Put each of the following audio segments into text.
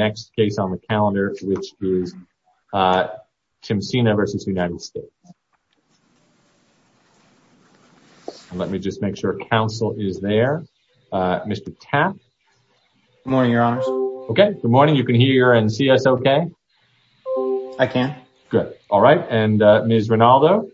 next case on the calendar which is Timsina v. United States. Let me just make sure counsel is there. Mr. Tapp. Good morning, your honors. Okay, good morning. You can hear and see us okay? I can. Good. All right. And Ms. Rinaldo.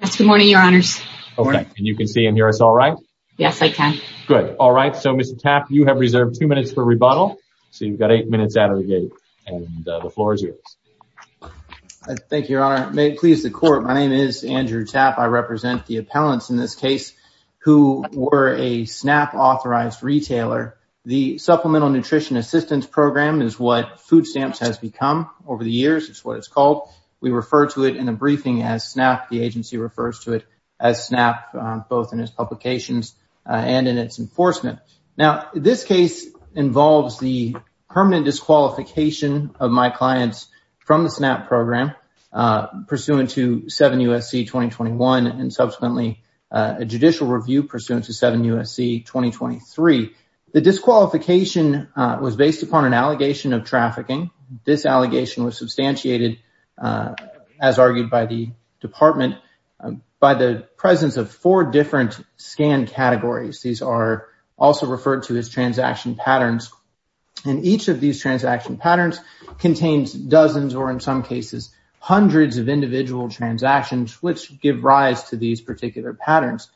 Yes, good morning, your honors. Okay, and you can see and hear us all right? Yes, I can. Good. All right. So, Mr. Tapp, you have reserved two minutes for rebuttal. So, you've got eight minutes out of the gate and the floor is yours. Thank you, your honor. May it please the court. My name is Andrew Tapp. I represent the appellants in this case who were a SNAP authorized retailer. The Supplemental Nutrition Assistance Program is what Food Stamps has become over the years. It's what it's called. We refer to it in a briefing as SNAP. The agency refers to it as SNAP both in its publications and in its enforcement. Now, this case involves the permanent disqualification of my clients from the SNAP program pursuant to 7 U.S.C. 2021 and subsequently a judicial review pursuant to 7 U.S.C. 2023. The disqualification was based upon an allegation of trafficking. This allegation was substantiated, as argued by the department, by the presence of four different scan categories. These are also referred to as transaction patterns. And each of these transaction patterns contains dozens or in some cases hundreds of individual transactions which give rise to these particular patterns.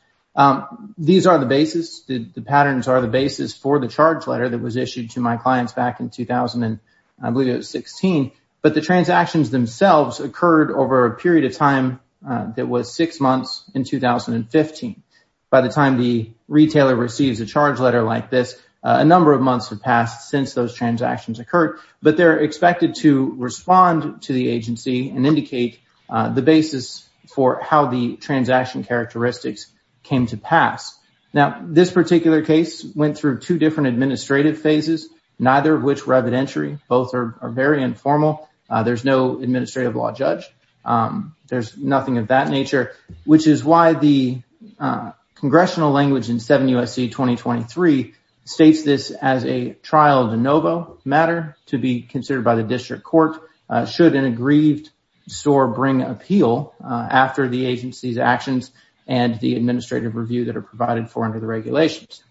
These are the basis. The patterns are the basis for the charge letter that was issued to my clients back in 2000 and I believe it was 16. But the transactions themselves occurred over a period of time that was six months in 2015. By the time the retailer receives a charge letter like this, a number of months have passed since those transactions occurred. But they're expected to respond to the agency and indicate the basis for how the transaction characteristics came to pass. Now, this particular case went through two different administrative phases, neither of which were evidentiary. Both are very informal. There's no administrative that nature, which is why the congressional language in 7 U.S.C. 2023 states this as a trial de novo matter to be considered by the district court should an aggrieved store bring appeal after the agency's actions and the administrative review that are provided for under the regulations.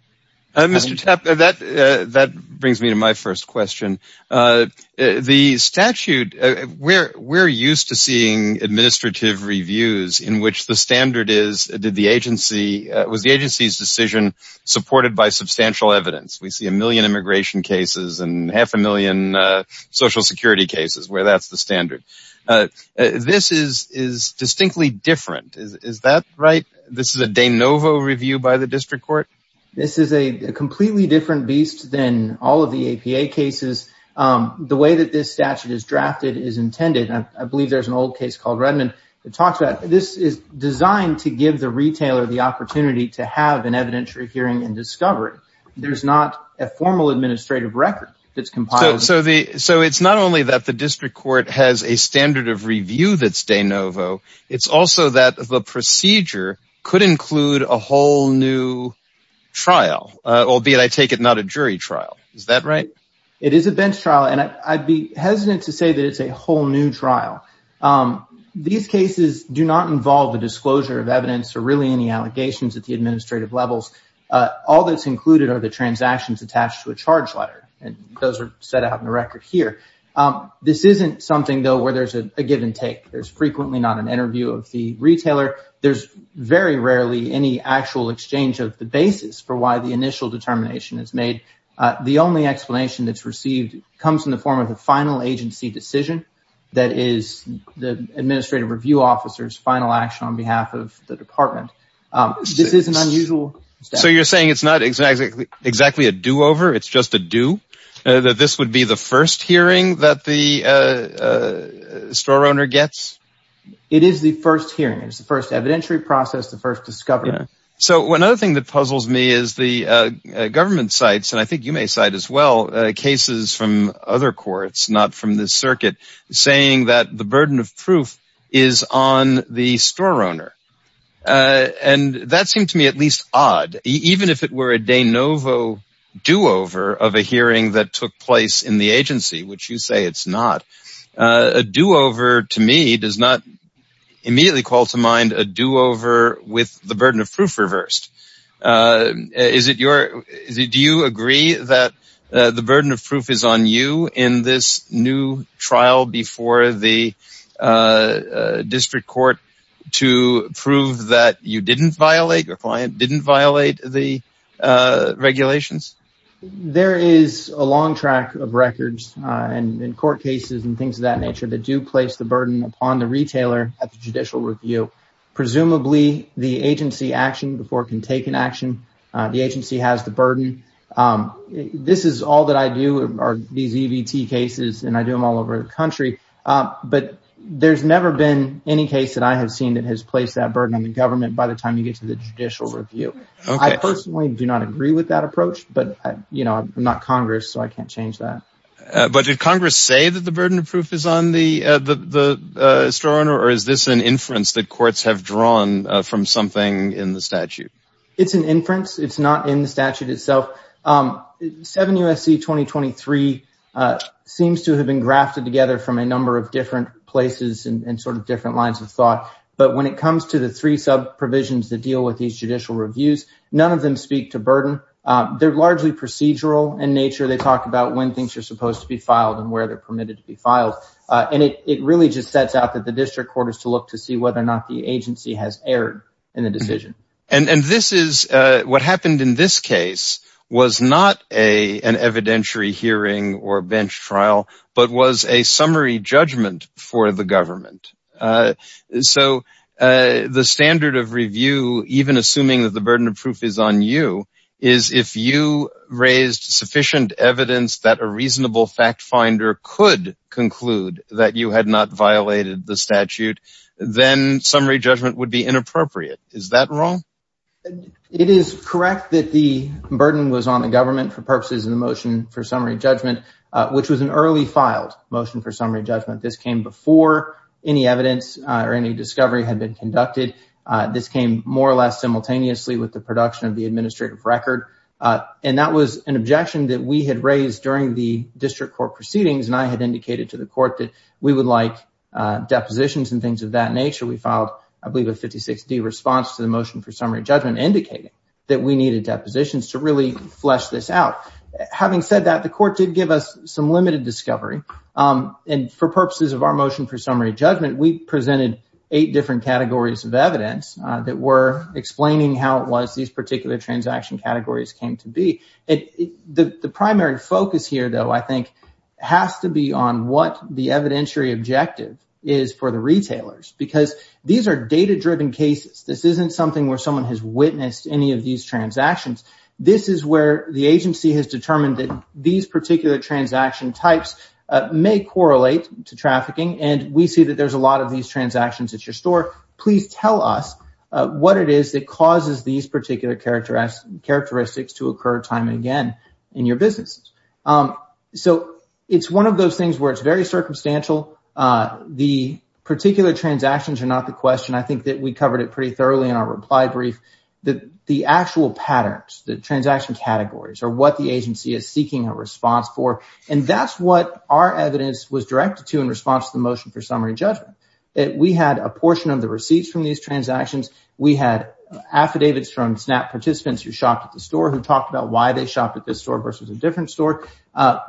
Mr. Tapp, that brings me to my first question. The statute, we're used to seeing administrative reviews in which the standard is, was the agency's decision supported by substantial evidence. We see a million immigration cases and half a million social security cases where that's the standard. This is distinctly different. Is that right? This is a de novo review by the district court? This is a completely different beast than all of the APA cases. The way that this statute is drafted is intended. I believe there's an old case called Redmond that talks about this is designed to give the retailer the opportunity to have an evidentiary hearing and discovery. There's not a formal administrative record that's compiled. So it's not only that the district court has a standard of review that's de novo. It's also that the procedure could include a whole new trial, albeit I take it not a jury trial. Is that right? It is a bench trial and I'd be hesitant to say that it's a whole new trial. These cases do not involve the disclosure of evidence or really any allegations at the administrative levels. All that's included are the transactions attached to a charge letter and those are set out in the record here. This isn't something though where there's a give and take. There's not an interview of the retailer. There's very rarely any actual exchange of the basis for why the initial determination is made. The only explanation that's received comes in the form of a final agency decision that is the administrative review officer's final action on behalf of the department. This is an unusual statute. So you're saying it's not exactly a do-over, it's just a do? That this would be the first It is the first hearing. It's the first evidentiary process, the first discovery. So one other thing that puzzles me is the government cites, and I think you may cite as well, cases from other courts, not from this circuit, saying that the burden of proof is on the store owner. That seemed to me at least odd. Even if it were a de novo do-over of a hearing that took place in the agency, which you say it's not, a do-over to me does not immediately call to mind a do-over with the burden of proof reversed. Do you agree that the burden of proof is on you in this new trial before the district court to prove that you didn't violate, your client didn't violate the regulations? There is a long track of records in court cases and things of that nature that do place the burden upon the retailer at the judicial review. Presumably, the agency action before it can take an action, the agency has the burden. This is all that I do, these EVT cases, and I do them all over the country, but there's never been any case that I have seen that the burden of proof is on the store owner before the government by the time you get to the judicial review. I personally do not agree with that approach, but I'm not Congress, so I can't change that. But did Congress say that the burden of proof is on the store owner, or is this an inference that courts have drawn from something in the statute? It's an inference. It's not in the statute itself. 7 U.S.C. 2023 seems to have been grafted together from a number of different places and different lines of thought, but when it comes to the three sub-provisions that deal with these judicial reviews, none of them speak to burden. They're largely procedural in nature. They talk about when things are supposed to be filed and where they're permitted to be filed, and it really just sets out that the district court is to look to see whether or not the agency has erred in the decision. What happened in this case was not an evidentiary hearing or bench trial, but was a summary judgment for the government. So the standard of review, even assuming that the burden of proof is on you, is if you raised sufficient evidence that a reasonable fact finder could conclude that you had not violated the statute, then summary judgment would be inappropriate. Is that wrong? It is correct that the burden was on the government for purposes of the motion for summary judgment, which was an early filed motion for summary judgment. This came before any evidence or any discovery had been conducted. This came more or less simultaneously with the production of the administrative record, and that was an objection that we had raised during the district court proceedings, and I had indicated to the court that we would like depositions and things of that nature. We filed, I believe, a 56-D response to the motion for summary judgment, indicating that we needed depositions to really flesh this out. Having said that, the court did give us some limited discovery, and for purposes of our motion for summary judgment, we presented eight different categories of evidence that were explaining how it was these particular transaction categories came to be. The primary focus here, though, I think, has to be on what the evidentiary objective is for the retailers, because these are data-driven cases. This isn't something where someone has witnessed any of these transactions. This is where the agency has determined that these particular transaction types may correlate to trafficking, and we see that there's a lot of these transactions at your store. Please tell us what it is that causes these particular characteristics to occur time and again in your business. So it's one of those things where it's very circumstantial. The particular transactions are not the question. I think that we covered it pretty thoroughly in our reply brief. The actual patterns, the transaction categories, are what the agency is seeking a response for, and that's what our evidence was directed to in response to the motion for summary judgment. We had a portion of the receipts from these transactions. We had affidavits from SNAP participants who shopped at the store who talked about why they shopped at this store versus a different store.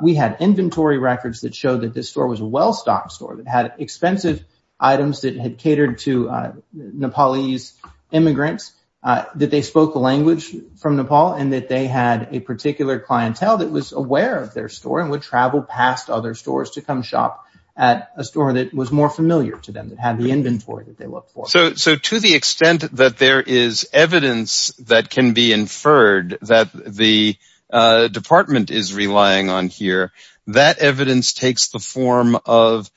We had inventory records that showed that this store was a well-stocked store that had expensive items that had catered to Nepalese immigrants, that they spoke the language from Nepal, and that they had a particular clientele that was aware of their store and would travel past other stores to come shop at a store that was more familiar to them, that had the inventory that they looked for. So to the extent that there is evidence that can be inferred that the department is relying on here, that evidence takes the form of,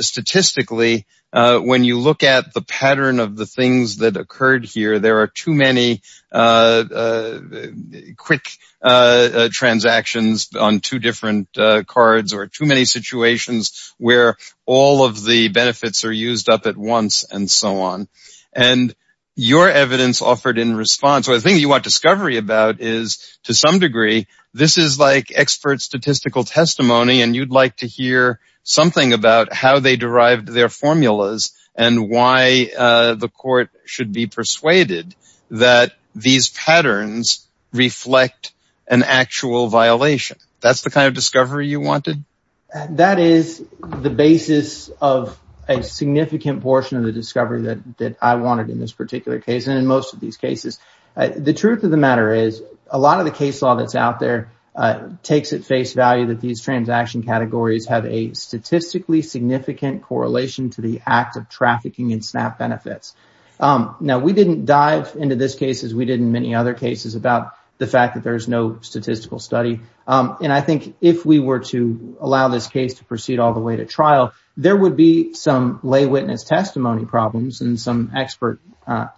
statistically, when you look at the pattern of the things that occurred here, there are too many quick transactions on two different cards or too many situations where all of the benefits are used up at once and so on. And your evidence offered in response, or the thing you want discovery about is, to some degree, this is like expert statistical testimony and you'd like to hear something about how they derived their formulas and why the court should be persuaded that these patterns reflect an actual violation. That's the kind of discovery you wanted? That is the basis of a significant portion of the discovery that I wanted in this particular case, and in most of these cases. The truth of the matter is, a lot of the case law that's out there takes at face value that these transaction categories have a statistically significant correlation to the act of trafficking in SNAP benefits. Now, we didn't dive into this case as we did in many other cases about the fact that there's no statistical study, and I think if we were to allow this case to proceed all the way to trial, there would be some lay witness testimony problems and some expert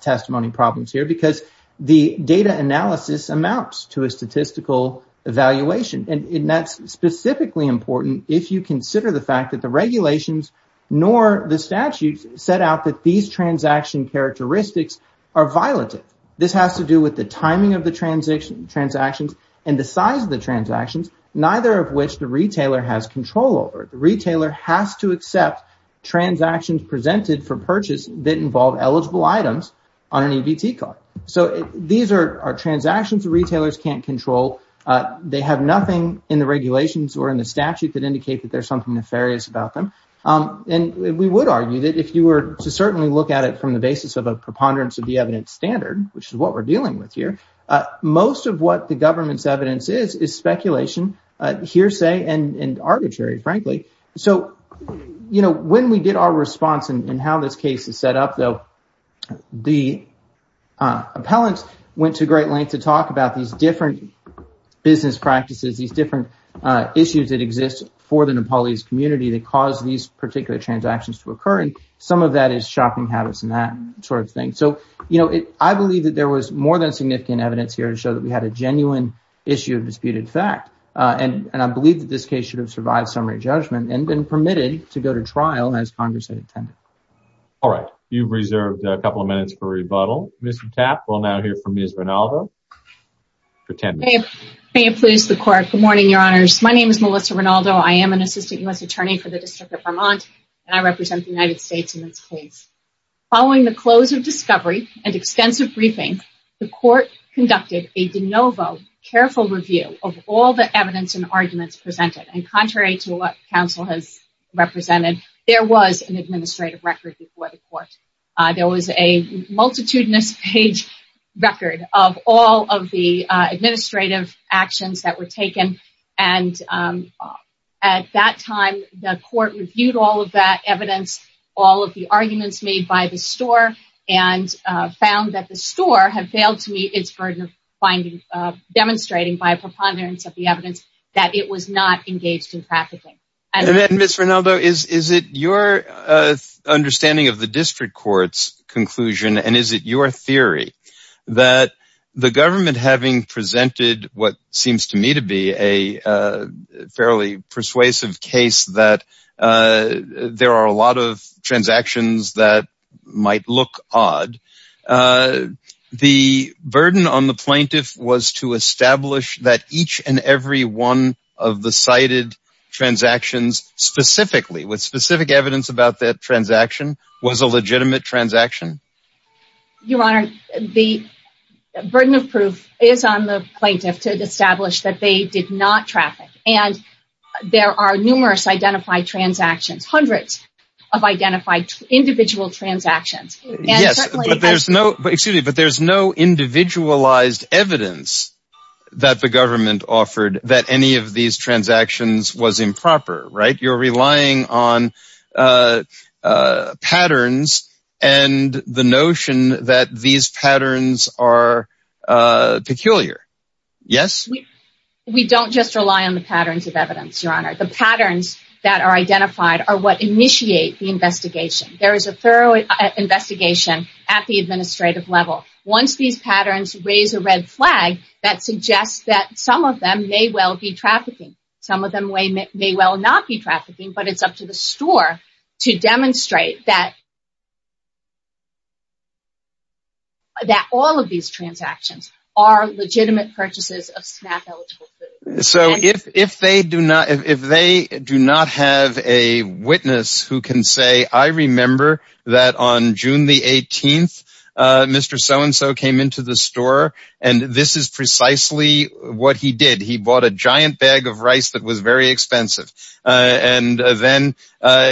testimony problems here because the data analysis amounts to a statistical evaluation. And that's specifically important if you consider the fact that the regulations nor the statutes set out that these transaction characteristics are violative. This has to do with the timing of the transactions and the size of the transactions, neither of which the retailer has control over. The retailer has to accept transactions presented for purchase that involve eligible items on an EBT card. These are transactions retailers can't control. They have nothing in the regulations or in the statute that indicate that there's something nefarious about them. We would argue that if you were to certainly look at it from the basis of a preponderance of the evidence standard, which is what we're dealing with here, most of what the government's evidence is is speculation, hearsay, and arbitrary, frankly. So, you know, when we did our response and how this case is set up, though, the appellants went to great lengths to talk about these different business practices, these different issues that exist for the Nepalese community that cause these particular transactions to occur, and some of that is shopping habits and that sort of thing. So, you know, I believe that there was more than significant evidence here to show that we had a genuine issue of disputed fact, and I believe that this case should have survived summary judgment and been permitted to go to trial as Congress had intended. All right. You've reserved a couple of minutes for rebuttal. Ms. Tapp, we'll now hear from Ms. Rinaldo. Good morning, Your Honors. My name is Melissa Rinaldo. I am an Assistant U.S. Attorney for the District of Vermont, and I represent the United States in this case. Following the close of discovery and extensive briefing, the court conducted a de novo careful review of all the evidence and arguments presented, and contrary to what counsel has represented, there was an administrative record before the court. There was a multitudinous page record of all of the administrative actions that were taken, and at that time, the court reviewed all of that evidence, all of the arguments made by the store, and found that the store had failed to meet its burden of finding, demonstrating by a preponderance of the evidence that it was not engaged in trafficking. Ms. Rinaldo, is it your understanding of the district court's conclusion, and is it your theory that the government, having presented what seems to me to be a fairly persuasive case that there are a lot of transactions that might look odd, the burden on the plaintiff was to establish that each and every one of the cited transactions specifically, with specific evidence about that transaction, was a legitimate transaction? Your Honor, the burden of proof is on the plaintiff to establish that they did not traffic, and there are numerous identified transactions, hundreds of identified individual transactions. Yes, but there's no, excuse me, but there's no individualized evidence that the government offered that any of these transactions was improper, right? You're relying on patterns and the notion that these patterns are peculiar. Yes? We don't just rely on the patterns of evidence, Your Honor. The patterns that are identified are what initiate the investigation. There is a thorough investigation at the administrative level. Once these patterns raise a red flag, that suggests that some of them may well be trafficking. Some of them may well not be trafficking, but it's up to the store to demonstrate that all of these transactions are legitimate purchases of snack-eligible food. So if they do not have a witness who can say, I remember that on June the 18th, Mr. So-and-so came into the store, and this is precisely what he did. He bought a giant bag of chips. It was very expensive, and then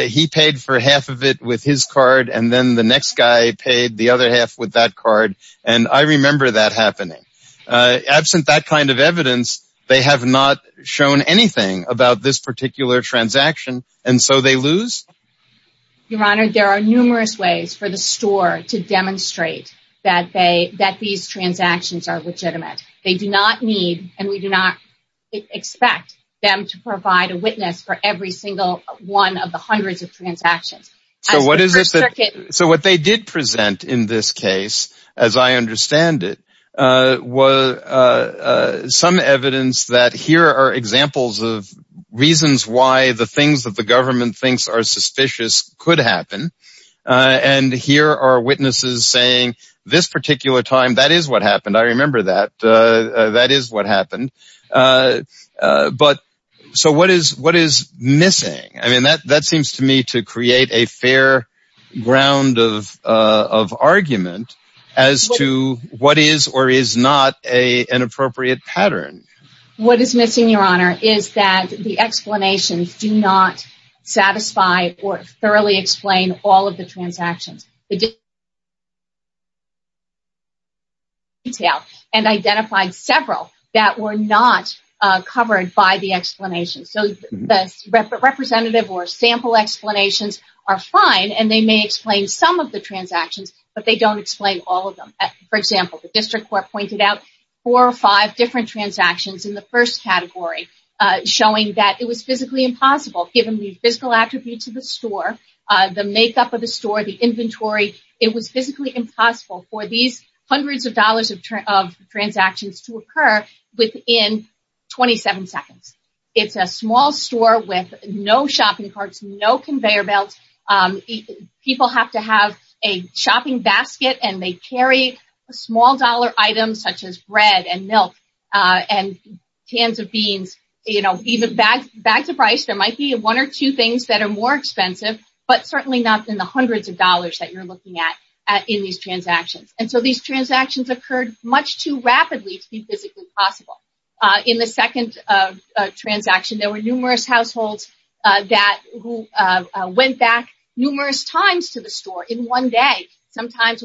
he paid for half of it with his card, and then the next guy paid the other half with that card, and I remember that happening. Absent that kind of evidence, they have not shown anything about this particular transaction, and so they lose. Your Honor, there are numerous ways for the store to demonstrate that these transactions are legitimate. They do not need, and we do not expect them to provide a witness for every single one of the hundreds of transactions. So what they did present in this case, as I understand it, was some evidence that here are examples of reasons why the things that the government thinks are suspicious could happen, and here are witnesses saying, this particular time, that is what happened. I remember that. That is what happened. So what is missing? I mean, that seems to me to create a fair ground of argument as to what is or is not an appropriate pattern. What is missing, Your Honor, is that the explanations do not satisfy or thoroughly explain all of the transactions. The district court explained in detail and identified several that were not covered by the explanation. So the representative or sample explanations are fine, and they may explain some of the transactions, but they don't explain all of them. For example, the district court pointed out four or five different transactions in the first category, showing that it was physically impossible, given the physical attributes of the store, the makeup of the store, the inventory, it was physically impossible for these hundreds of dollars of transactions to occur within 27 seconds. It's a small store with no shopping carts, no conveyor belts. People have to have a shopping basket, and they carry small dollar items such as bread and milk and cans of beans, you know, even bags of rice. There might be one or two things that are more expensive, but certainly not in the hundreds of dollars that you're looking at in these transactions. And so these transactions occurred much too rapidly to be physically possible. In the second transaction, there were numerous households that went back numerous times to the store in one day, sometimes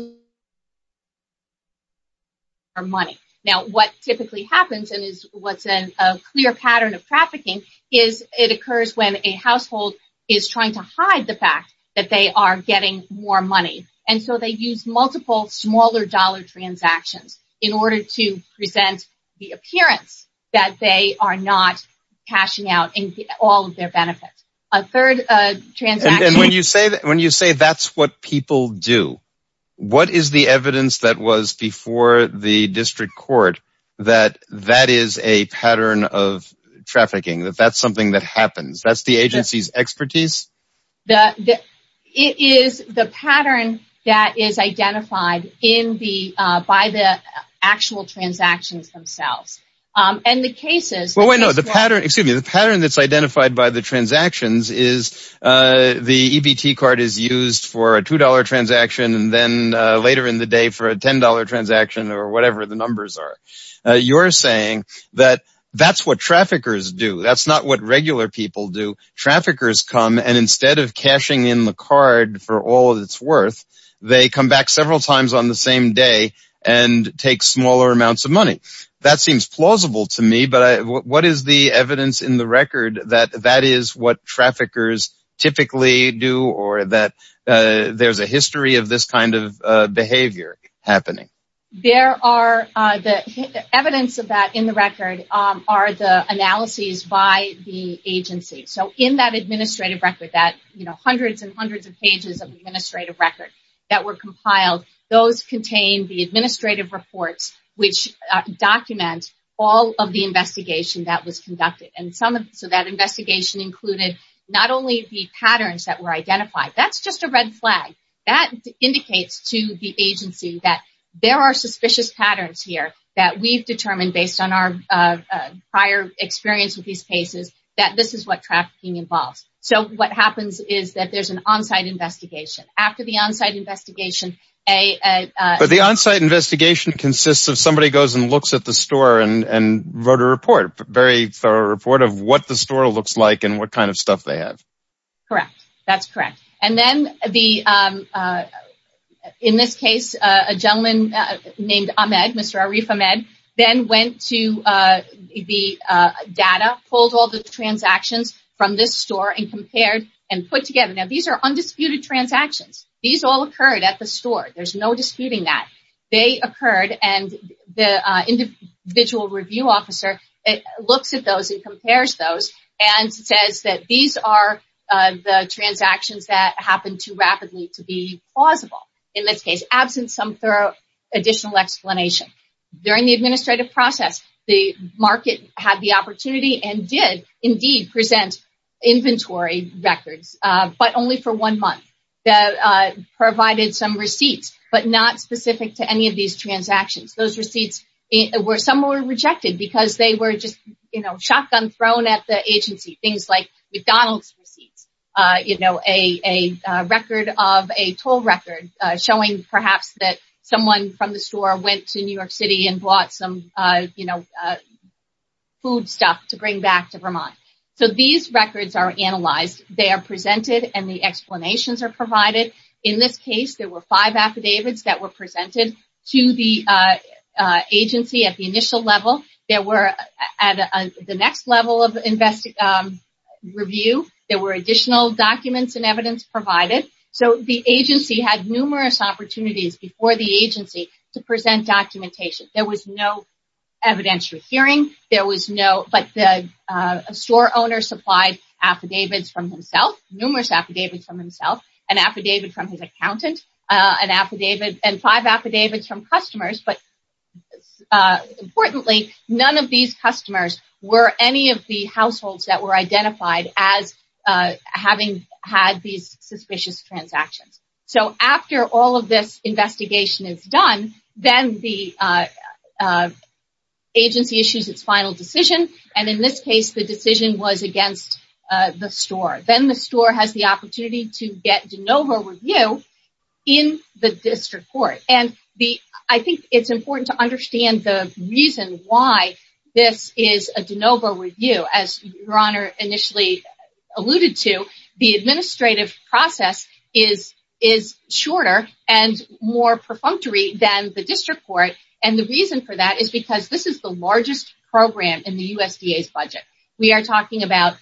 for money. Now, what typically happens and is what's a clear pattern of trafficking is it occurs when a household is trying to hide the fact that they are getting more money, and so they use multiple smaller dollar transactions in order to present the appearance that they are not cashing out all of their benefits. A third transaction... What is the evidence that was before the district court that that is a pattern of trafficking, that that's something that happens? That's the agency's expertise? It is the pattern that is identified by the actual transactions themselves. And the cases... Well, no, the pattern that's identified by the transactions is the EBT card is used for a $2 transaction, and then later in the day for a $10 transaction or whatever the numbers are. You're saying that that's what traffickers do. That's not what regular people do. Traffickers come, and instead of cashing in the card for all that it's worth, they come back several times on the same day and take smaller amounts of money. That seems plausible to me, but what is the evidence in the record that that is what traffickers typically do, or that there's a history of this kind of behavior happening? The evidence of that in the record are the analyses by the agency. So in that administrative record, that hundreds and hundreds of pages of administrative record that were compiled, those contain the administrative reports which document all of the investigation that was conducted. So that investigation included not only the patterns that were identified, that's just a red flag. That indicates to the agency that there are suspicious patterns here that we've determined based on our prior experience with these cases, that this is what trafficking involves. So what happens is that there's an on-site investigation. After the on-site investigation... But the on-site investigation consists of somebody goes and looks at the store and wrote a report, a very thorough report of what the store looks like and what kind of stuff they have. Correct. That's correct. And then in this case, a gentleman named Ahmed, Mr. Arif Ahmed, then went to the data, pulled all the transactions from this store and compared and put together. These are undisputed transactions. These all occurred at the store. There's no disputing that. They occurred and the individual review officer looks at those and compares those and says that these are the transactions that happened too rapidly to be plausible. In this case, absent some thorough additional explanation. During the administrative process, the market had the opportunity and did indeed present inventory records, but only for one month. They provided some receipts, but not specific to any of these transactions. Those receipts, some were rejected because they were just shotgun thrown at the agency. Things like McDonald's receipts, a record of a toll record showing perhaps that someone from the store went to New York City and bought some food stuff to bring back to Vermont. These records are analyzed. They are presented and the explanations are provided. In this case, there were five affidavits that were presented to the agency at the initial level. At the next level of review, there were additional documents and evidence provided. The agency had numerous opportunities before the agency to present documentation. There was no evidentiary hearing, but the store owner supplied affidavits from himself, numerous affidavits from himself, an affidavit from his accountant, and five affidavits from customers. Importantly, none of these customers were any of the households that were identified as having had these suspicious transactions. After all of this investigation is done, then the agency issues its final decision. In this case, the decision was against the store. Then the store has the opportunity to get de novo review in the district court. I think it's important to understand the reason why this is a de novo review. As Your Honor initially alluded to, the administrative process is shorter and more perfunctory than the district court. The reason for that is because this is the largest program in the USDA's budget. We are talking about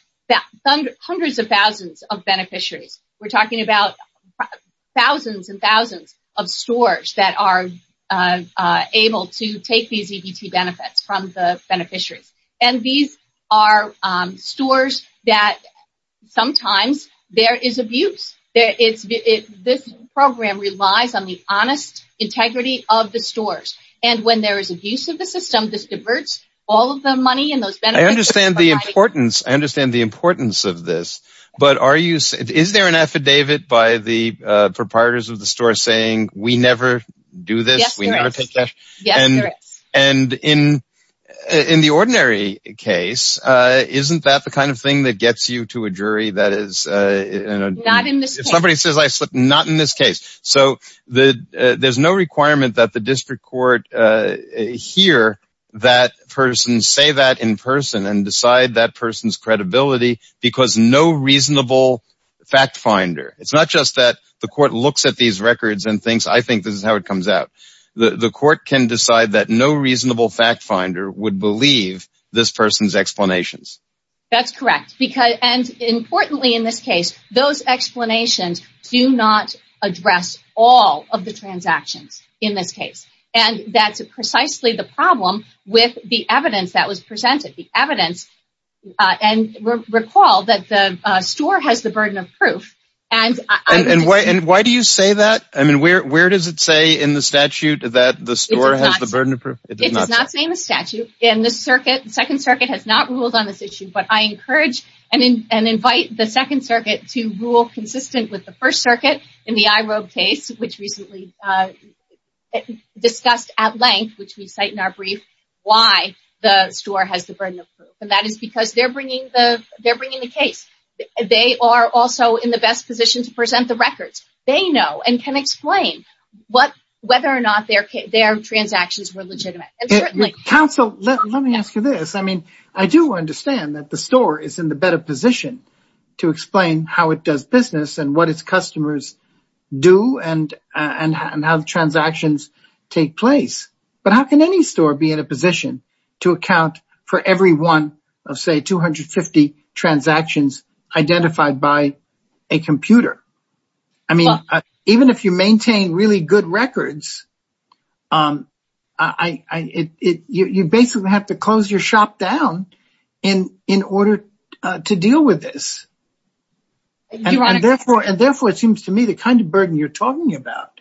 hundreds of thousands of beneficiaries. We are talking about thousands and thousands of stores that are able to take these EBT benefits from the beneficiaries. These are stores that sometimes there is abuse. This program relies on the honest integrity of the stores. When there is abuse of the system, this diverts all of the money and those benefits. I understand the importance of this, but is there an affidavit by the proprietors of the store saying, we never do this, we never take cash? Yes, there is. And in the ordinary case, isn't that the kind of thing that gets you to a jury that is... Not in this case. If somebody says I slipped, not in this case. There's no requirement that the district court hear that person say that in person and decide that person's credibility because no reasonable fact finder. It's not just that the court looks at these records and thinks, I think this is how it comes out. The court can decide that no reasonable fact finder would believe this person's explanations. That's correct. And importantly in this case, those explanations do not address all of the transactions in this case. And that's precisely the problem with the evidence that was presented. The evidence, and recall that the store has the burden of proof. And why do you say that? I mean, where does it say in the statute that the store has the burden of proof? It does not say in the statute. And the second circuit has not ruled on this issue, but I encourage and invite the second circuit to rule consistent with the first circuit in the IROB case, which recently discussed at length, which we cite in our brief, why the store has the burden of proof. And that is because they're bringing the case. They are also in the best position to present the records. They know and can explain whether or not their transactions were legitimate. Counsel, let me ask you this. I mean, I do understand that the store is in the better position to explain how it does business and what its customers do and how the transactions take place. But how can any store be in a position to account for every one of, say, 250 transactions identified by a computer? I mean, even if you maintain really good records, you basically have to close your shop down in order to deal with this. And therefore, it seems to me the kind of burden you're talking about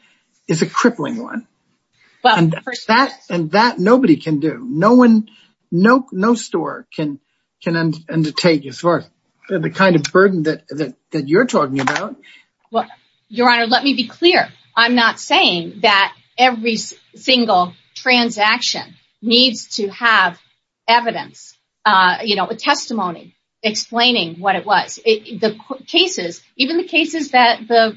is a crippling one. And that nobody can do. No one, no store can undertake as far as the kind of burden that you're talking about. Well, Your Honor, let me be clear. I'm not saying that every single transaction needs to have evidence, you know, a testimony explaining what it was. The cases, even the cases that the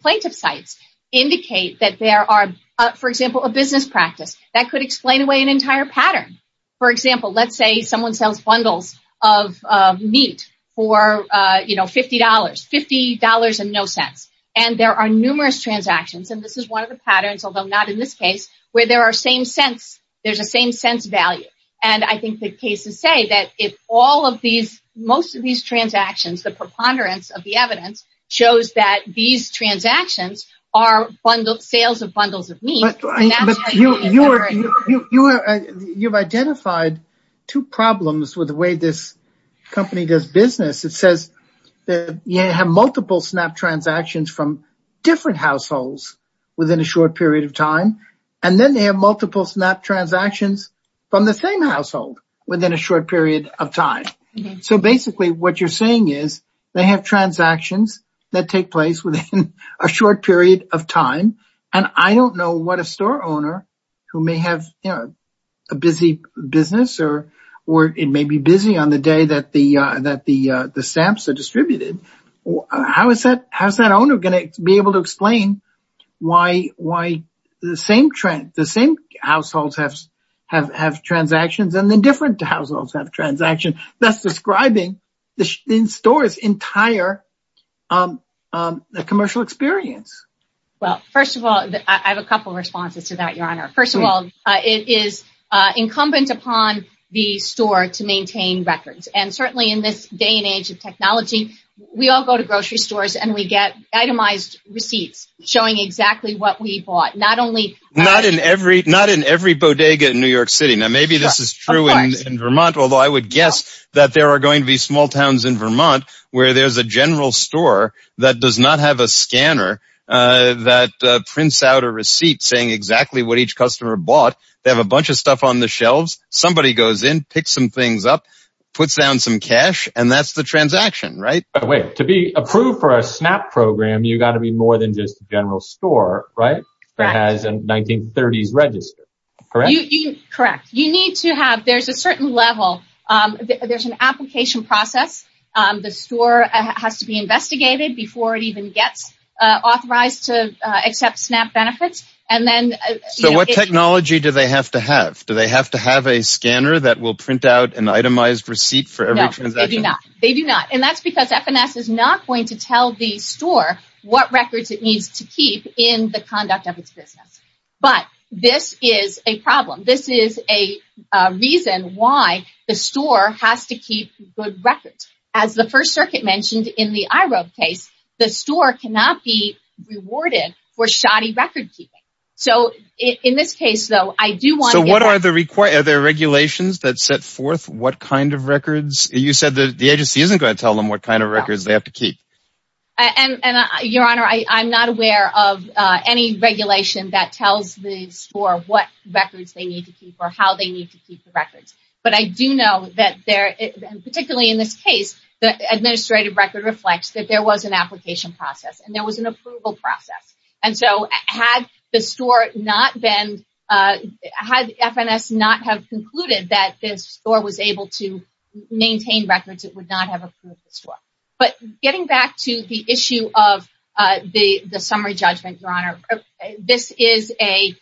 plaintiff cites indicate that there are, for example, a business practice that could explain away an entire pattern. For example, let's say someone sells bundles of meat for, you know, $50, $50 and no cents. And there are numerous transactions. And this is one of the patterns, although not in this case, where there are same cents. There's a same cents value. And I think the cases say that if all of these, most of these transactions, the preponderance of the evidence shows that these transactions are bundled sales of bundles of meat. You've identified two problems with the way this company does business. It says that you have multiple snap transactions from different households within a short period of time. And then they have multiple snap transactions from the same household within a short period of time. So basically, what you're saying is they have transactions that take place within a short period of time. And I don't know what a store owner who may have a busy business or it may be busy on the day that the stamps are have transactions and then different households have transaction that's describing the store's entire commercial experience. Well, first of all, I have a couple of responses to that, Your Honor. First of all, it is incumbent upon the store to maintain records. And certainly in this day and age of technology, we all go to grocery stores and we get itemized receipts showing exactly what we bought, not only... Not in every bodega in New York City. Now, maybe this is true in Vermont, although I would guess that there are going to be small towns in Vermont where there's a general store that does not have a scanner that prints out a receipt saying exactly what each customer bought. They have a bunch of stuff on the shelves. Somebody goes in, picks some things up, puts down some cash, and that's the transaction, right? Wait, to be approved for a SNAP program, you got to be more than just a general store, right? That has a 1930s register, correct? Correct. You need to have... There's a certain level. There's an application process. The store has to be investigated before it even gets authorized to accept SNAP benefits. And then... So what technology do they have to have? Do they have to have a scanner that will print out an itemized receipt for every transaction? They do not. And that's because FNS is not going to tell the store what records it needs to keep in the conduct of its business. But this is a problem. This is a reason why the store has to keep good records. As the First Circuit mentioned in the IROB case, the store cannot be rewarded for shoddy record keeping. So in this case, though, I do want to get... So what are the regulations that set forth what kind of records? You said that the agency isn't going to tell them what kind of records they have to keep. Your Honor, I'm not aware of any regulation that tells the store what records they need to keep or how they need to keep the records. But I do know that there... And particularly in this case, the administrative record reflects that there was an application process and there was an approval process. And so had the store not been... Had FNS not have concluded that this store was able to maintain records, it would not have approved the store. But getting back to the issue of the summary judgment, Your Honor, this is a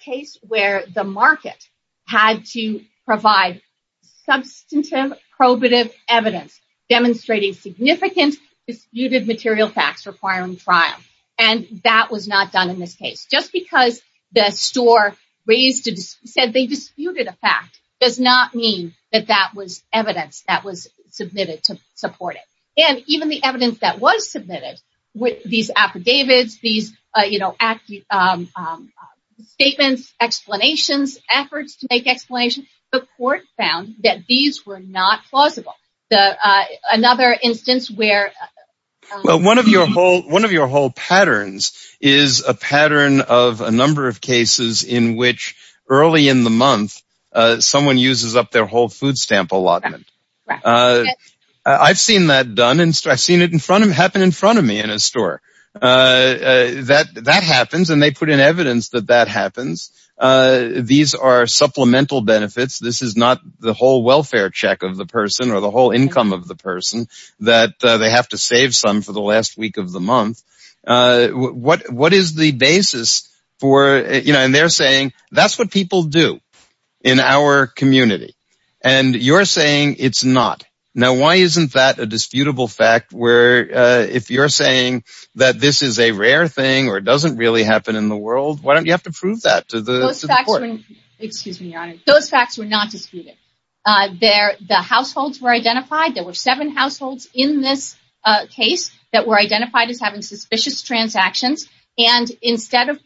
case where the market had to provide substantive probative evidence demonstrating significant disputed material facts requiring trial. And that was not done in this case. Just because the store said they disputed a fact does not mean that that was evidence that was submitted to support it. And even the evidence that was submitted with these affidavits, these statements, explanations, efforts to make explanations, the court found that these were not plausible. Another instance where... Well, one of your whole patterns is a pattern of a number of cases in which early in the month, someone uses up their whole food stamp allotment. I've seen that done and I've seen it happen in front of me in a store. That happens and they put in evidence that that happens. These are supplemental benefits. This is not the whole welfare check of the person or the whole income of the person that they have to save for the last week of the month. What is the basis for... And they're saying that's what people do in our community. And you're saying it's not. Now, why isn't that a disputable fact where if you're saying that this is a rare thing or it doesn't really happen in the world, why don't you have to prove that to the court? Those facts were not disputed. There, the households were identified. There were seven households in this case that were identified as having suspicious transactions. And instead of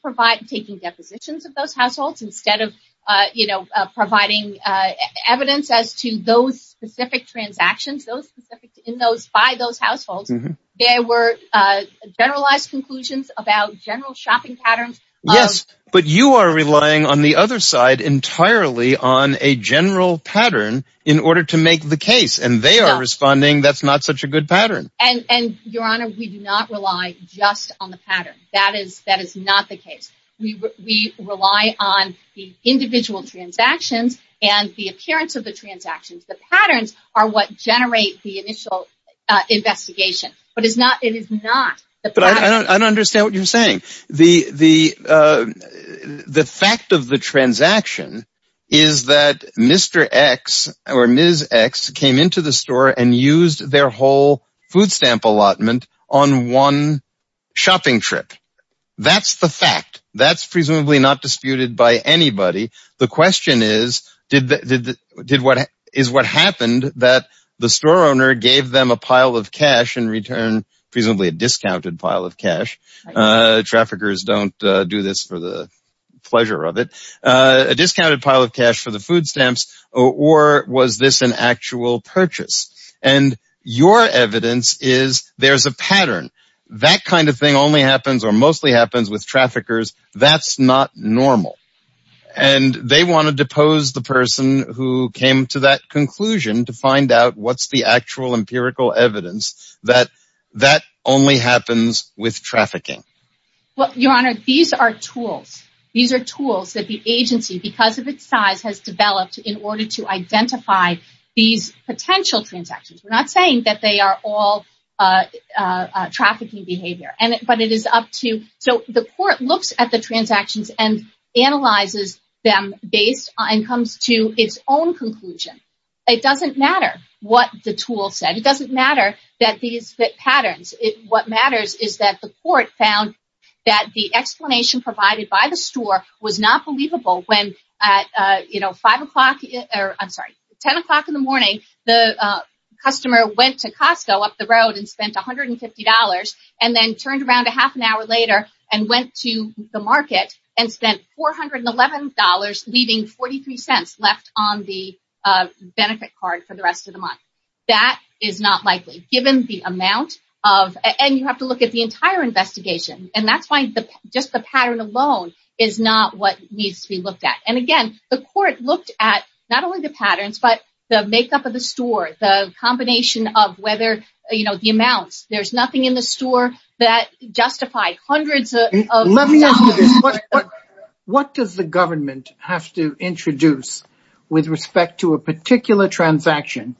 taking depositions of those households, instead of providing evidence as to those specific transactions, those specific in those, by those households, there were generalized conclusions about general shopping patterns. Yes, but you are relying on the other side entirely on a general pattern in order to make the case and they are responding that's not such a good pattern. And your honor, we do not rely just on the pattern. That is not the case. We rely on the individual transactions and the appearance of the transactions. The patterns are what generate the initial investigation, but it is not. But I don't understand what you're saying. The fact of the transaction is that Mr. X or Ms. X came into the store and used their whole food stamp allotment on one shopping trip. That's the fact. That's presumably not disputed by anybody. The question is, did what, is what happened that the store owner gave them a pile of cash in return, presumably a discounted pile of cash? Traffickers don't do this for the pleasure of it. A discounted pile of cash for the food stamps or was this an actual purchase? And your evidence is there's a pattern. That kind of thing only happens or mostly happens with traffickers. That's not normal. And they want to depose the person who came to that conclusion to find out what's the actual empirical evidence that that only happens with trafficking. Well, your honor, these are tools. These are tools that the agency, because of its size, has developed in order to identify these potential transactions. We're not saying that they are all trafficking behavior, but it is so the court looks at the transactions and analyzes them based on and comes to its own conclusion. It doesn't matter what the tool said. It doesn't matter that these patterns, what matters is that the court found that the explanation provided by the store was not believable when at 5 o'clock or I'm sorry, 10 o'clock in the morning, the customer went to went to the market and spent $411, leaving 43 cents left on the benefit card for the rest of the month. That is not likely given the amount of and you have to look at the entire investigation. And that's why just the pattern alone is not what needs to be looked at. And again, the court looked at not only the patterns, but the makeup of the store, the combination of whether the amounts, there's nothing in the store that justified hundreds. What does the government have to introduce with respect to a particular transaction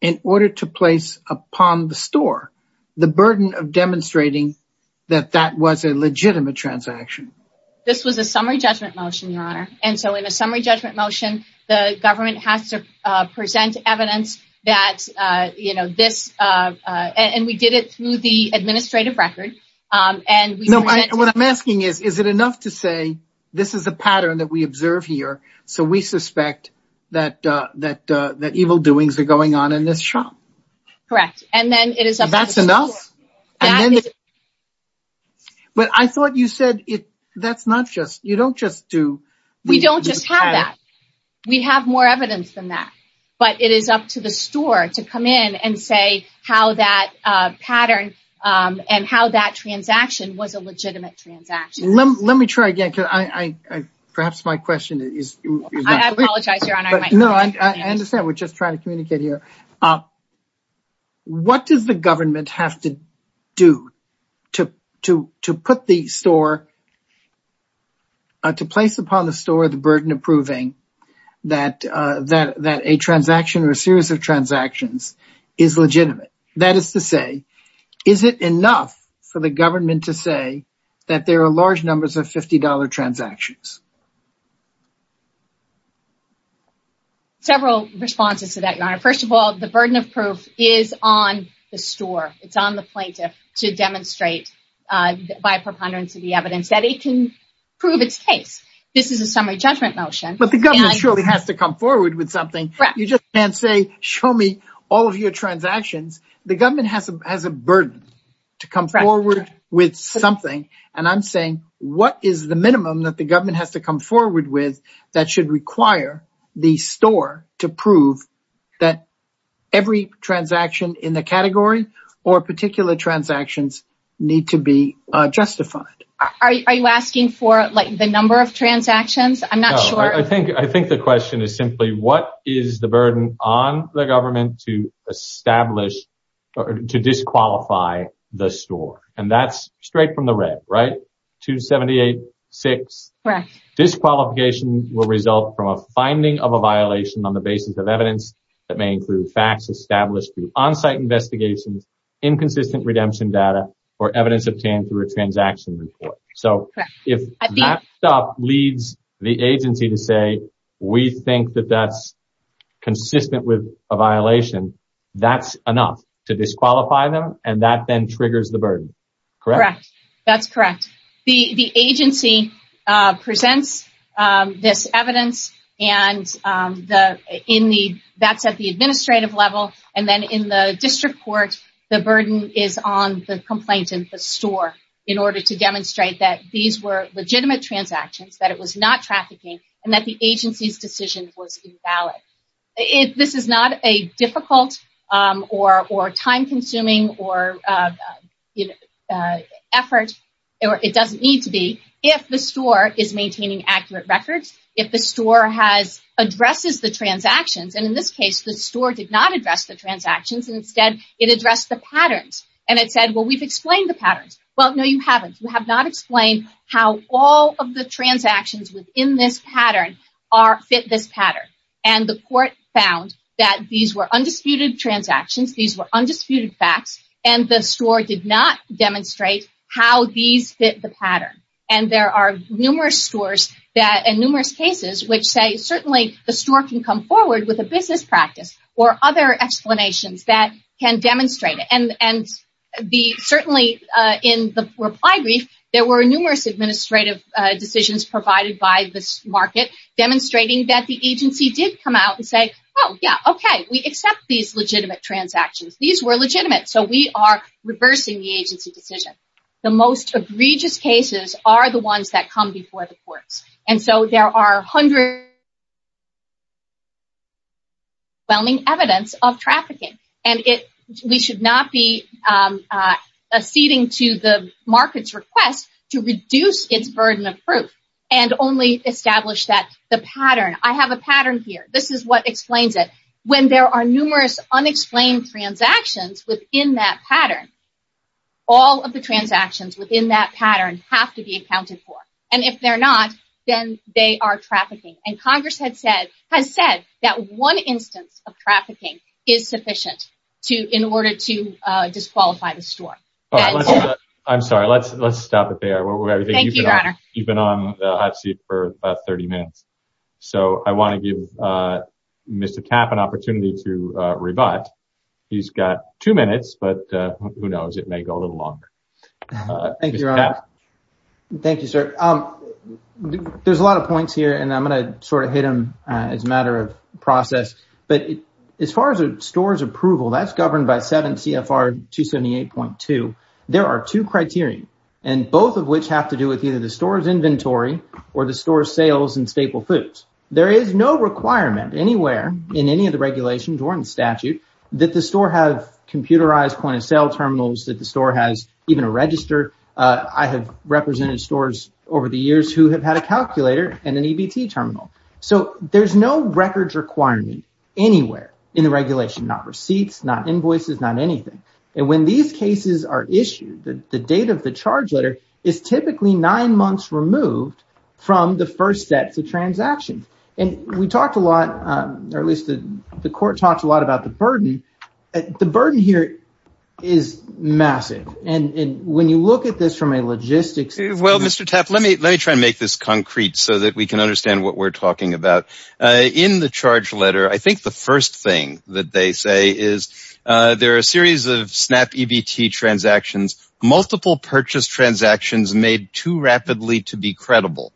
in order to place upon the store the burden of demonstrating that that was a legitimate transaction? This was a summary judgment motion, your honor. And so in a summary judgment motion, the government has to present evidence that this and we did it through the administrative record. What I'm asking is, is it enough to say, this is a pattern that we observe here. So we suspect that evil doings are going on in this shop. Correct. And then it is. That's enough. But I thought you said that's not just you don't just do. We don't just have that. We have more evidence than that, but it is up to the store to come in and say how that pattern and how that transaction was a legitimate transaction. Let me try again. Perhaps my question is. I apologize, your honor. No, I understand. We're just trying to communicate here. What does the government have to do to to to put the store. To place upon the store the burden of proving that that that a transaction or a series of transactions is legitimate. That is to say, is it enough for the government to say that there are large numbers of $50 transactions? Several responses to that, your honor. First of all, the burden of proof is on the store. It's on the plaintiff to demonstrate by preponderance of the evidence that it can prove its case. This is a summary judgment motion. But the government surely has to come forward with something. You just can't say, show me all of your transactions. The government has a burden to come forward with something. To come forward with that should require the store to prove that every transaction in the category or particular transactions need to be justified. Are you asking for like the number of transactions? I'm not sure. I think I think the question is simply what is the burden on the government to establish to disqualify the store? And that's straight from the red, right? 278-6. Disqualification will result from a finding of a violation on the basis of evidence that may include facts established through on-site investigations, inconsistent redemption data, or evidence obtained through a transaction report. So if that leads the agency to say, we think that that's consistent with a violation, that's enough to disqualify them. And that then triggers the burden, correct? That's correct. The agency presents this evidence and that's at the administrative level. And then in the district court, the burden is on the complainant, the store, in order to demonstrate that these were legitimate transactions, that it was not trafficking, and that the agency's decision was invalid. This is not a difficult or time-consuming effort, or it doesn't need to be, if the store is maintaining accurate records, if the store addresses the transactions. And in this case, the store did not address the transactions. Instead, it addressed the patterns. And it said, well, we've explained the patterns. Well, no, you haven't. You have not explained how all of the transactions within this pattern fit this pattern. And the court found that these were undisputed transactions. These were undisputed facts. And the store did not demonstrate how these fit the pattern. And there are numerous stores and numerous cases which say, certainly the store can come forward with a business practice or other explanations that can demonstrate it. And certainly in the reply brief, there were numerous administrative decisions provided by this market demonstrating that the agency did come out and say, oh, yeah, okay, we accept these legitimate transactions. These were legitimate. So we are reversing the agency decision. The most egregious cases are the ones that come before the courts. And so there are hundreds of evidence of trafficking. And we should not be acceding to the market's request to reduce its burden of proof and only establish the pattern. I have a pattern here. This is what explains it. When there are numerous unexplained transactions within that pattern, all of the transactions within that pattern have to be accounted for. And if they're not, then they are trafficking. And Congress has said that one instance of trafficking is sufficient in order to disqualify the store. I'm sorry. Let's stop it there. You've been on the hot seat for 30 minutes. So I want to give Mr. Tapp an opportunity to rebut. He's got two minutes, but who knows? It may go a little longer. Thank you, Your Honor. Thank you, sir. There's a lot of points here, and I'm going to sort of hit them as a matter of process. But as far as a store's approval, that's governed by 7 CFR 278.2. There are two criteria, and both of which have to do with either the store's inventory or the store's sales and staple foods. There is no requirement anywhere in any of the regulations or in statute that the store have computerized point of sale terminals, that the store has even a register. I have represented stores over the years who have had a calculator and an EBT terminal. So there's no records requirement anywhere in the regulation, not receipts, not invoices, not anything. And when these cases are issued, the date of the charge letter is typically nine months removed from the first steps of transaction. And we talked a lot, or at least the court talked a lot about the burden. The burden here is massive. And when you look at this from a logistics standpoint... Well, Mr. Tapp, let me try and make this concrete so that we can understand what we're talking about. In the charge letter, I think the first thing that they say is there are a series of SnapEBT transactions, multiple purchase transactions made too rapidly to be credible.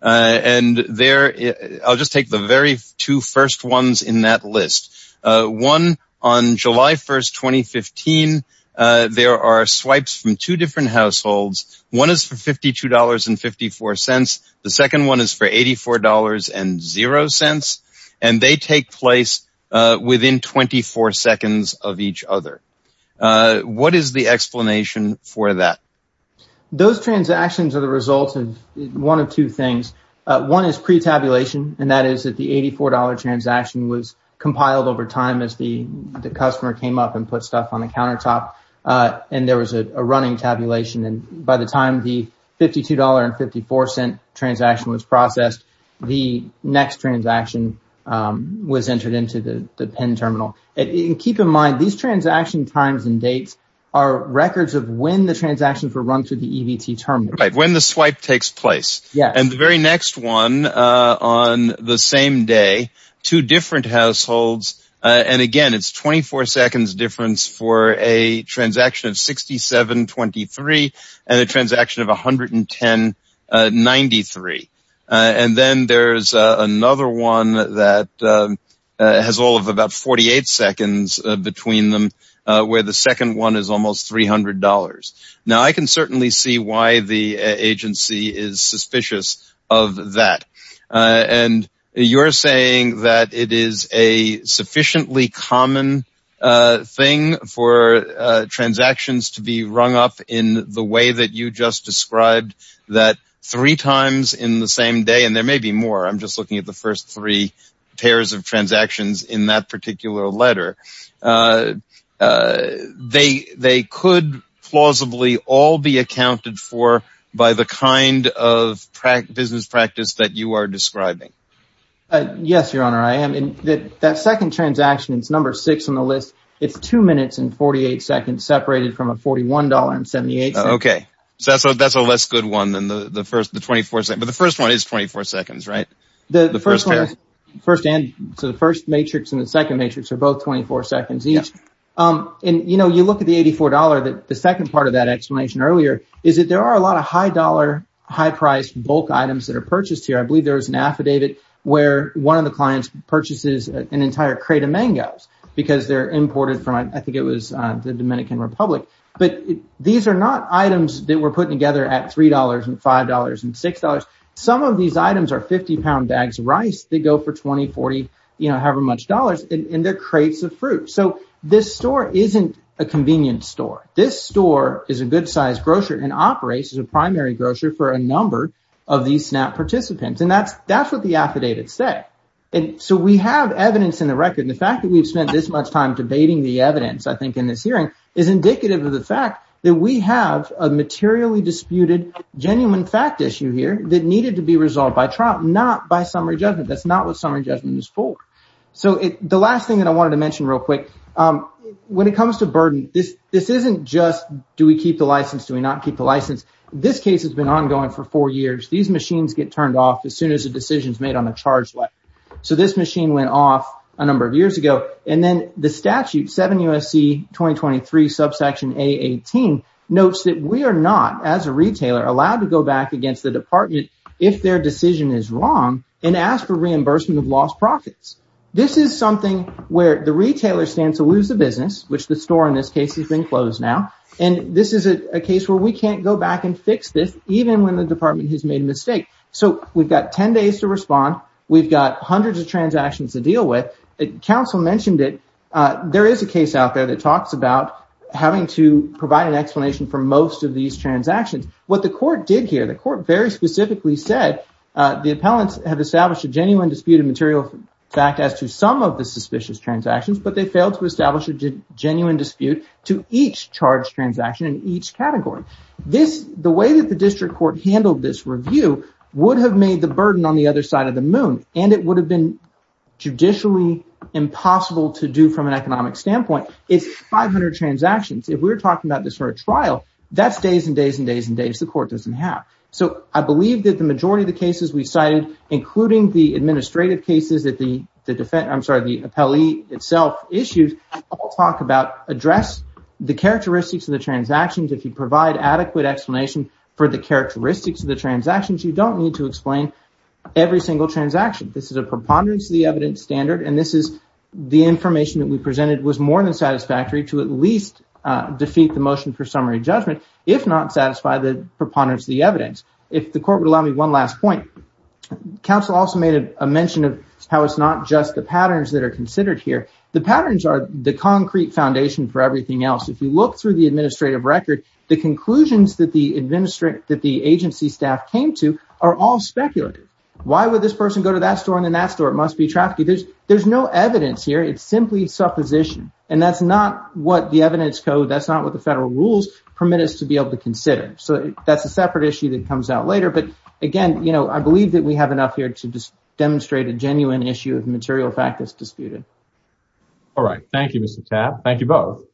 And I'll just take the very two first ones in that list. One, on July 1st, 2015, there are swipes from two different households. One is for $52.54, the second one is for $84.00, and they take place within 24 seconds of each other. What is the explanation for that? Those transactions are the result of one of two things. One is pre-tabulation, and that is that the $84.00 transaction was compiled over time as the customer came up and put stuff on the countertop, and there was a running tabulation. And by the time the $52.54 transaction was processed, the next transaction was entered into the PIN terminal. Keep in mind, these transaction times and dates are records of when the transactions were run through the EBT terminal. Right, when the swipe takes place. Yes. The very next one, on the same day, two different households, and again, it's 24 seconds difference for a transaction of $67.23 and a transaction of $110.93. And then there's another one that has all of about 48 seconds between them, where the second one is almost $300. Now, I can certainly see why the agency is suspicious of that. And you're saying that it is a sufficiently common thing for transactions to be rung up in the way that you just described, that three times in the same day, and there may be more, I'm just looking at the first three pairs of transactions in that particular letter. They could plausibly all be accounted for by the kind of business practice that you are describing. Yes, Your Honor, I am. And that second transaction, it's number six on the list. It's two minutes and 48 seconds separated from a $41.78. Okay. So that's a less good one than the first 24 seconds. But the first one is 24 seconds, right? Yes. And you look at the $84, the second part of that explanation earlier is that there are a lot of high-dollar, high-priced bulk items that are purchased here. I believe there was an affidavit where one of the clients purchases an entire crate of mangoes because they're imported from, I think it was the Dominican Republic. But these are not items that were put together at $3 and $5 and $6. Some of these items are 50-pound bags of rice that go for $20, $40, however much dollars, and they're crates of fruit. So this store isn't a convenience store. This store is a good-sized grocer and operates as a primary grocer for a number of these SNAP participants. And that's what the affidavits say. And so we have evidence in the record. And the fact that we've spent this much time debating the evidence, I think, in this hearing is indicative of the fact that we have a materially disputed, genuine fact issue here that needed to be resolved by trial, not by summary judgment. That's not what summary judgment is for. So the last thing that I wanted to mention real quick, when it comes to burden, this isn't just, do we keep the license, do we not keep the license? This case has been ongoing for four years. These machines get turned off as soon as a decision is made on a charge letter. So this machine went off a number of years ago. And then the statute, 7 U.S.C. 2023, subsection A18, notes that we are not, as a retailer, allowed to go back against the department if their decision is wrong and ask for reimbursement of lost profits. This is something where the retailer stands to lose the business, which the store in this case has been closed now. And this is a case where we can't go back and fix this, even when the department has made a mistake. So we've got 10 days to respond. We've got hundreds of transactions to deal with. Counsel mentioned it. There is a case out there that talks about having to provide an explanation for most of these transactions. What the court did here, the court very specifically said the appellants have established a genuine dispute of material fact as to some of the suspicious transactions, but they failed to establish a genuine dispute to each charge transaction in each category. The way that the district court handled this review would have made the burden on the other side of the moon, and it would have been judicially impossible to do from an economic standpoint. It's 500 transactions. If we're talking about this for a trial, that's days and days and days and days the court doesn't have. So I believe that the majority of the cases we cited, including the administrative cases that the appellee itself issued, all talk about address the characteristics of the transactions. If you provide adequate explanation for the characteristics of the transactions, you don't need to explain every single transaction. This is a preponderance of the evidence standard, and this is the information that we presented was more than satisfactory to at least defeat the motion for summary judgment, if not satisfy the preponderance of the evidence. If the court would allow me one last point, counsel also made a mention of how it's not just the patterns that are considered here. The patterns are the concrete foundation for everything else. If you look through the administrative record, the conclusions that the agency staff came to are all speculative. Why would this person go to that store and then that store? It must be trafficking. There's no evidence here. It's simply supposition. And that's not what the evidence code, that's not what the federal rules permit us to be able to consider. So that's a separate issue that comes out later. But again, you know, I believe that we have enough here to demonstrate a genuine issue of material fact that's disputed. All right. Thank you, Mr. Tapp. Thank you both.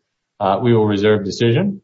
We will reserve decision.